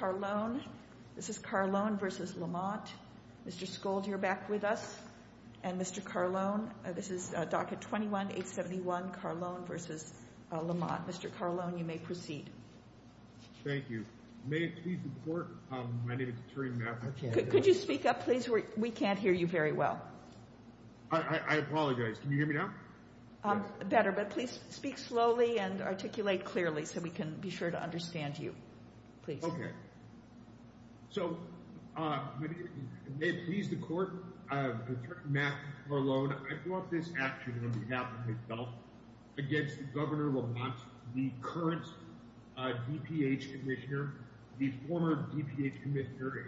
Mr. Scold, you're back with us, and Mr. Carlone, this is docket 21-871, Carlone v. Lamont. Mr. Carlone, you may proceed. Thank you. May it please the Court, my name is Terry Matheson. Could you speak up, please? We can't hear you very well. I apologize. Can you hear me now? Better, but please speak slowly and articulate clearly so we can be sure to understand you. Okay. So, may it please the Court, I am Mr. Matheson Carlone. I brought this action on behalf of myself against Governor Lamont, the current DPH Commissioner, the former DPH Commissioner,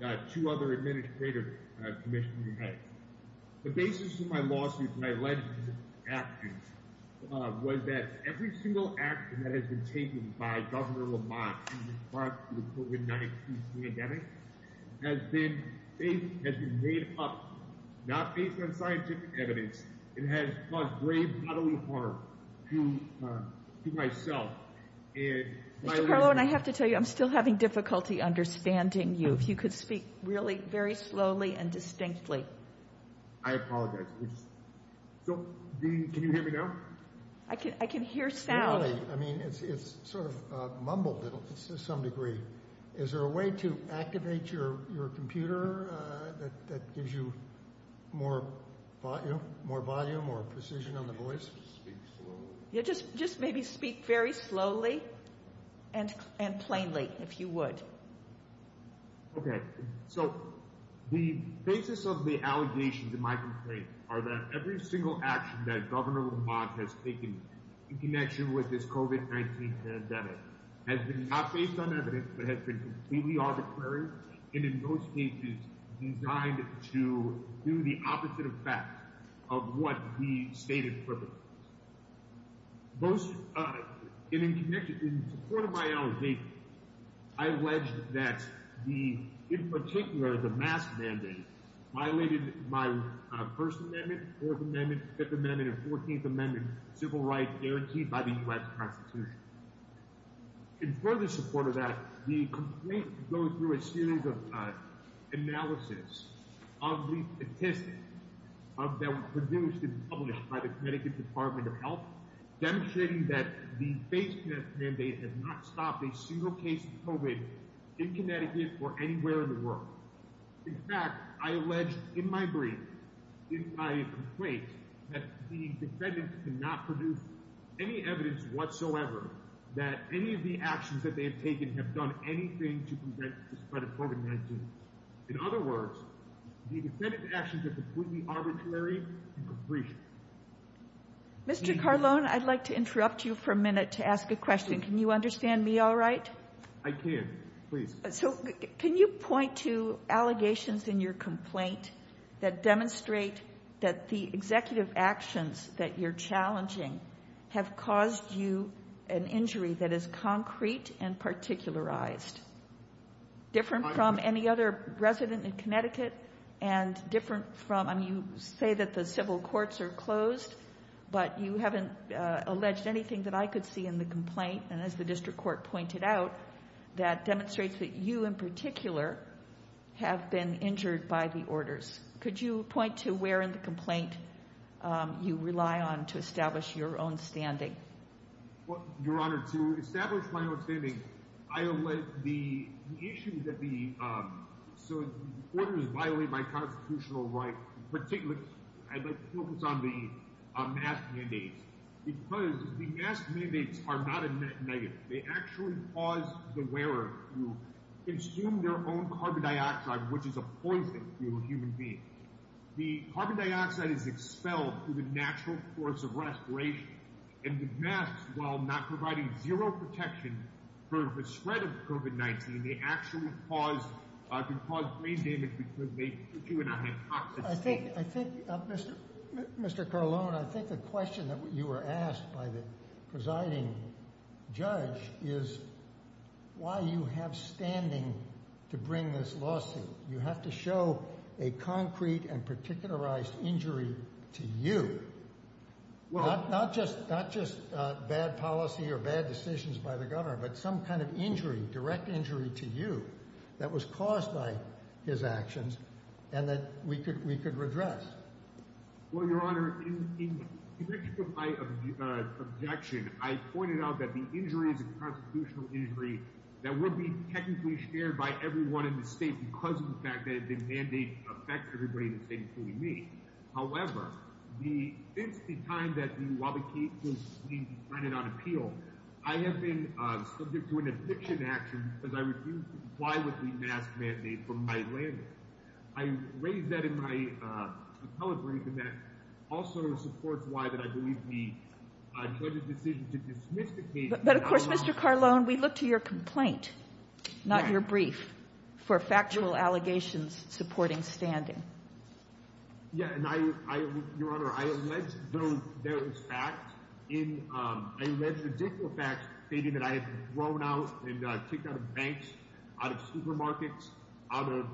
and two other Administrative Commissioners. The basis of my lawsuit, my alleged action, was that every single action that has been taken by Governor Lamont in response to the COVID-19 pandemic has been made up not based on scientific evidence. It has caused grave bodily harm to myself. Mr. Carlone, I have to tell you, I'm still having difficulty understanding you. If you could speak really very slowly and distinctly. I apologize. So, can you hear me now? I can hear sound. I mean, it's sort of mumbled to some degree. Is there a way to activate your computer that gives you more volume or precision on the voice? Just maybe speak very slowly and plainly, if you would. Okay. So, the basis of the allegations in my complaint are that every single action that Governor Lamont has taken in connection with this COVID-19 pandemic has been not based on evidence but has been completely arbitrary and in most cases designed to do the opposite effect of what he stated previously. In support of my allegation, I alleged that, in particular, the mask mandate violated my First Amendment, Fourth Amendment, Fifth Amendment, and Fourteenth Amendment civil rights guaranteed by the U.S. Constitution. In further support of that, the complaint goes through a series of analyses of the statistics that were produced and published by the Connecticut Department of Health, demonstrating that the face mask mandate has not stopped a single case of COVID in Connecticut or anywhere in the world. In fact, I alleged in my brief, in my complaint, that the defendants cannot produce any evidence whatsoever that any of the actions that they have taken have done anything to prevent the spread of COVID-19. In other words, the defendant's actions are completely arbitrary and complete. Mr. Carlon, I'd like to interrupt you for a minute to ask a question. Can you understand me all right? I can. Please. So can you point to allegations in your complaint that demonstrate that the executive actions that you're challenging have caused you an injury that is concrete and particularized, different from any other resident in Connecticut and different from, I mean, you say that the civil courts are closed, but you haven't alleged anything that I could see in the complaint. And as the district court pointed out, that demonstrates that you in particular have been injured by the orders. Could you point to where in the complaint you rely on to establish your own standing? Well, Your Honor, to establish my own standing, I allege the issue that the, so the order is violated by constitutional right, I'd like to focus on the mask mandates, because the mask mandates are not a negative. They actually cause the wearer to consume their own carbon dioxide, which is a poison to a human being. The carbon dioxide is expelled through the natural course of respiration. And the masks, while not providing zero protection for the spread of COVID-19, they actually cause brain damage because they put you in a hypoxic state. I think, Mr. Carlone, I think the question that you were asked by the presiding judge is why you have standing to bring this lawsuit. You have to show a concrete and particularized injury to you. Well, not just not just bad policy or bad decisions by the government, but some kind of injury, direct injury to you that was caused by his actions and that we could we could redress. Well, Your Honor, in my objection, I pointed out that the injuries and constitutional injury that would be technically shared by everyone in the state because of the fact that the mandate affects everybody in the state, including me. However, the it's the time that while the case was being decided on appeal, I have been subject to an eviction action because I refused to comply with the mask mandate from my landlord. I raised that in my appellate briefing that also supports why that I believe the judge's decision to dismiss the case. But of course, Mr. Carlone, we look to your complaint, not your brief, for factual allegations supporting standing. Yeah, and I, Your Honor, I let go. There is fact in a ridiculous fact stating that I have grown out and kicked out of banks, out of supermarkets, out of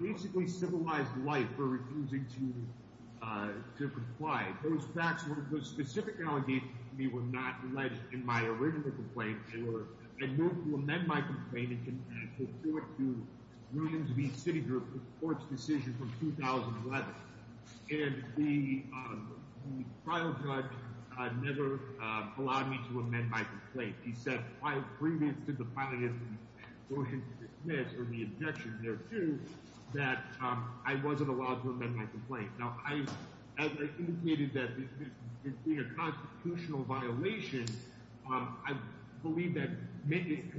basically civilized life for refusing to to comply. Those facts were specific allegations. We were not led in my original complaint. I moved to amend my complaint in support to Williams Beach City Court's decision from 2011. And the trial judge never allowed me to amend my complaint. He said prior to the filing of the motion to dismiss or the objection thereto that I wasn't allowed to amend my complaint. Now, as I indicated, that being a constitutional violation, I believe that making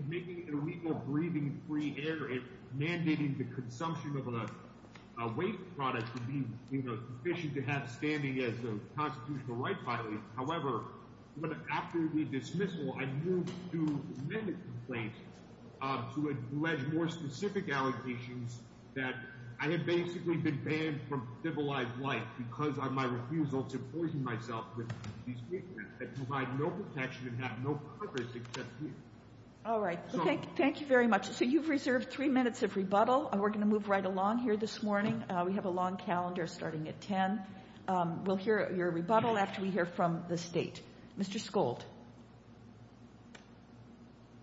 illegal breathing free air and mandating the consumption of a waste product would be sufficient to have standing as a constitutional right filing. However, after the dismissal, I moved to amend the complaint to allege more specific allegations that I had basically been banned from civilized life because of my refusal to poison myself with these liquids that provide no protection and have no proper success here. All right. Thank you very much. So you've reserved three minutes of rebuttal. We're going to move right along here this morning. We have a long calendar starting at 10. We'll hear your rebuttal after we hear from the State. Mr. Skold.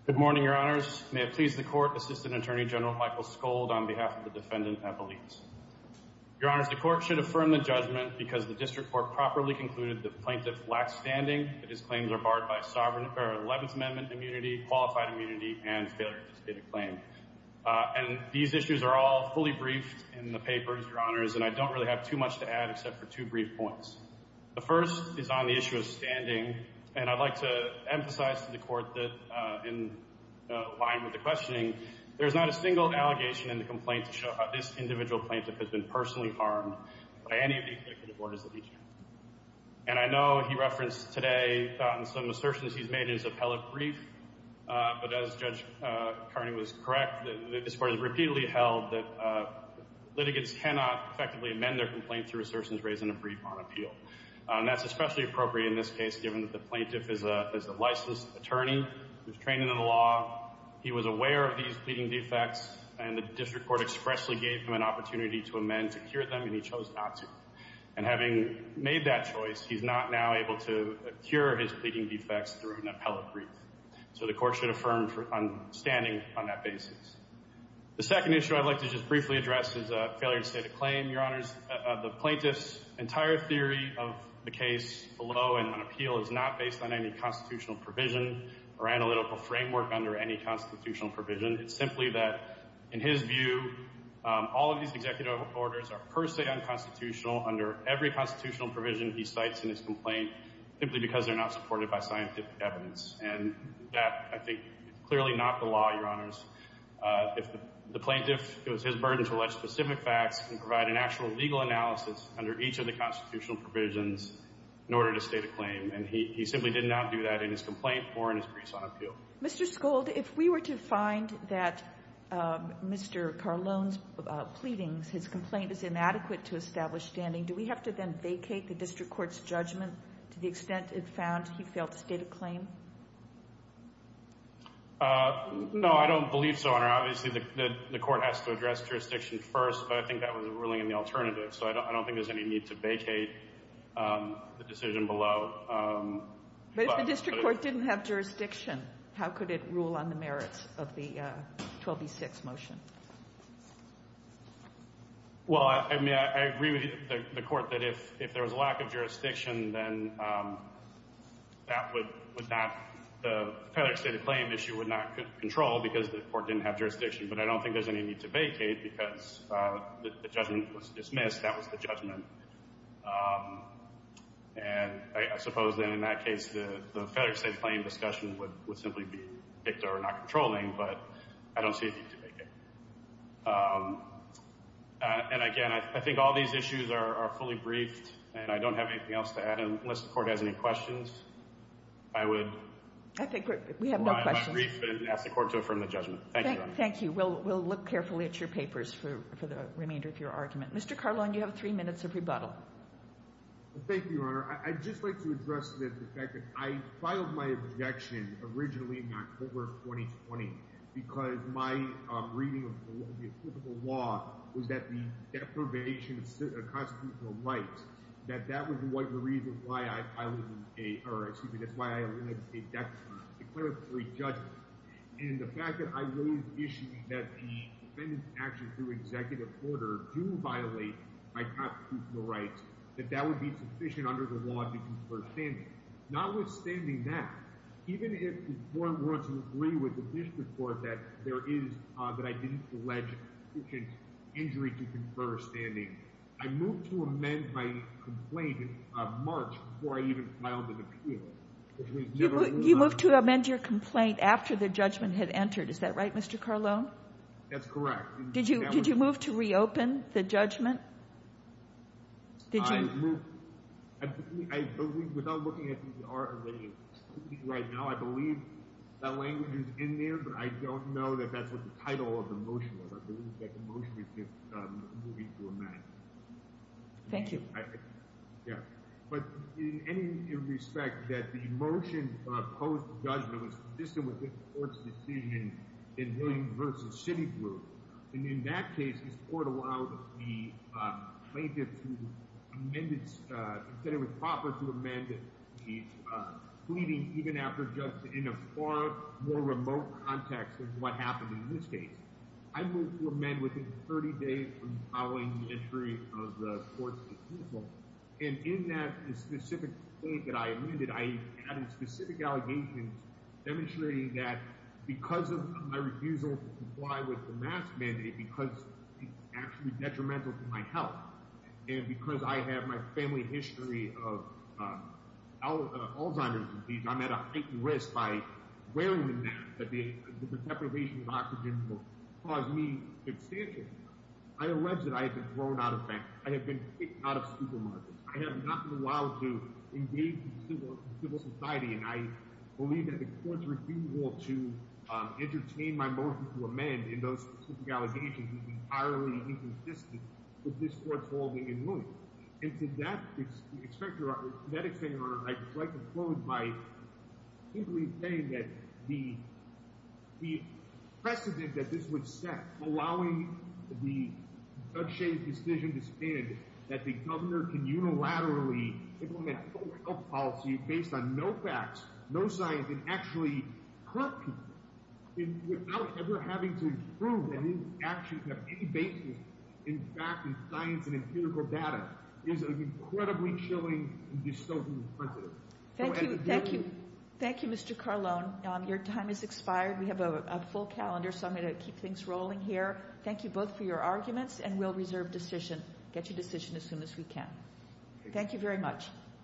Good morning, Your Honors. May it please the Court, Assistant Attorney General Michael Skold, on behalf of the defendant, Evelette. Your Honors, the Court should affirm the judgment because the District Court properly concluded the plaintiff lacks standing, that his claims are barred by Eleventh Amendment immunity, qualified immunity, and failure to state a claim. And these issues are all fully briefed in the papers, Your Honors, and I don't really have too much to add except for two brief points. The first is on the issue of standing, and I'd like to emphasize to the Court that, in line with the questioning, there is not a single allegation in the complaint to show how this individual plaintiff has been personally harmed by any of the afflictive orders that he's used. And I know he referenced today on some assertions he's made in his appellate brief, but as Judge Kearney was correct, this Court has repeatedly held that litigants cannot effectively amend their complaints through assertions raised in a brief on appeal. And that's especially appropriate in this case, given that the plaintiff is a licensed attorney who's trained in the law, he was aware of these pleading defects, and the District Court expressly gave him an opportunity to amend to cure them, and he chose not to. And having made that choice, he's not now able to cure his pleading defects through an appellate brief. So the Court should affirm standing on that basis. The second issue I'd like to just briefly address is a failure to state a claim, Your Honors. The plaintiff's entire theory of the case below and on appeal is not based on any constitutional provision or analytical framework under any constitutional provision. It's simply that, in his view, all of these executive orders are per se unconstitutional under every constitutional provision he cites in his complaint, simply because they're not supported by scientific evidence. And that, I think, is clearly not the law, Your Honors. If the plaintiff feels his burden to allege specific facts, he can provide an actual legal analysis under each of the constitutional provisions in order to state a claim. And he simply did not do that in his complaint or in his briefs on appeal. Mr. Scold, if we were to find that Mr. Carlone's pleadings, his complaint is inadequate to establish standing, do we have to then vacate the District Court's judgment to the extent it found he failed to state a claim? No, I don't believe so, Your Honor. Obviously, the Court has to address jurisdiction first, but I think that was a ruling in the alternative. So I don't think there's any need to vacate the decision below. But if the District Court didn't have jurisdiction, how could it rule on the merits of the 12B6 motion? Well, I mean, I agree with the Court that if there was a lack of jurisdiction, then that would not—the failure to state a claim issue would not control because the Court didn't have jurisdiction. But I don't think there's any need to vacate because the judgment was dismissed. That was the judgment. And I suppose, then, in that case, the failure to state a claim discussion would simply be not controlling. But I don't see a need to vacate. And, again, I think all these issues are fully briefed, and I don't have anything else to add. Unless the Court has any questions, I would— I think we have no questions. I would brief and ask the Court to affirm the judgment. Thank you, Your Honor. Thank you. We'll look carefully at your papers for the remainder of your argument. Mr. Carlone, you have three minutes of rebuttal. Thank you, Your Honor. Your Honor, I'd just like to address the fact that I filed my objection originally in October of 2020 because my reading of the applicable law was that the deprivation of constitutional rights, that that was the reason why I filed a—or, excuse me, that's why I eliminated a declaratory judgment. And the fact that I raised the issue that the defendant's actions through executive order do violate my constitutional rights, that that would be sufficient under the law to confer standing. Notwithstanding that, even if the Court were to agree with the district court that there is— that I didn't allege sufficient injury to confer standing, I moved to amend my complaint in March before I even filed an appeal. You moved to amend your complaint after the judgment had entered. Is that right, Mr. Carlone? That's correct. Did you move to reopen the judgment? Did you— I moved—I believe, without looking at the RRA right now, I believe that language is in there, but I don't know that that's what the title of the motion was. I believe that the motion is just moving to amend. Thank you. Yeah. But in any respect, that the motion post-judgment was consistent with this Court's decision in Williams v. Citigroup. And in that case, this Court allowed the plaintiff to amend its— said it was proper to amend the pleading even after just in a far more remote context than what happened in this case. I moved to amend within 30 days from following the entry of the Court's refusal. And in that specific state that I amended, I added specific allegations demonstrating that because of my refusal to comply with the mask mandate, because it's actually detrimental to my health, and because I have my family history of Alzheimer's disease, I'm at a heightened risk by wearing the mask, that the deprivation of oxygen will cause me substantial harm. I allege that I have been thrown out of banks. I have been kicked out of supermarkets. I have not been allowed to engage in civil society. And I believe that the Court's refusal to entertain my motion to amend in those specific allegations is entirely inconsistent with this Court's ruling in Williams. And to that extent, Your Honor, I would like to close by simply saying that the precedent that this would set, allowing the judge-shamed decision to stand, that the governor can unilaterally implement a health policy based on no facts, no science, and actually hurt people without ever having to prove that he actually has any basis in fact in science and empirical data, is incredibly chilling and dystopian and punitive. Thank you. Thank you. Thank you, Mr. Carlone. Your time has expired. We have a full calendar, so I'm going to keep things rolling here. Thank you both for your arguments, and we'll reserve decision, get you decision as soon as we can. Thank you very much.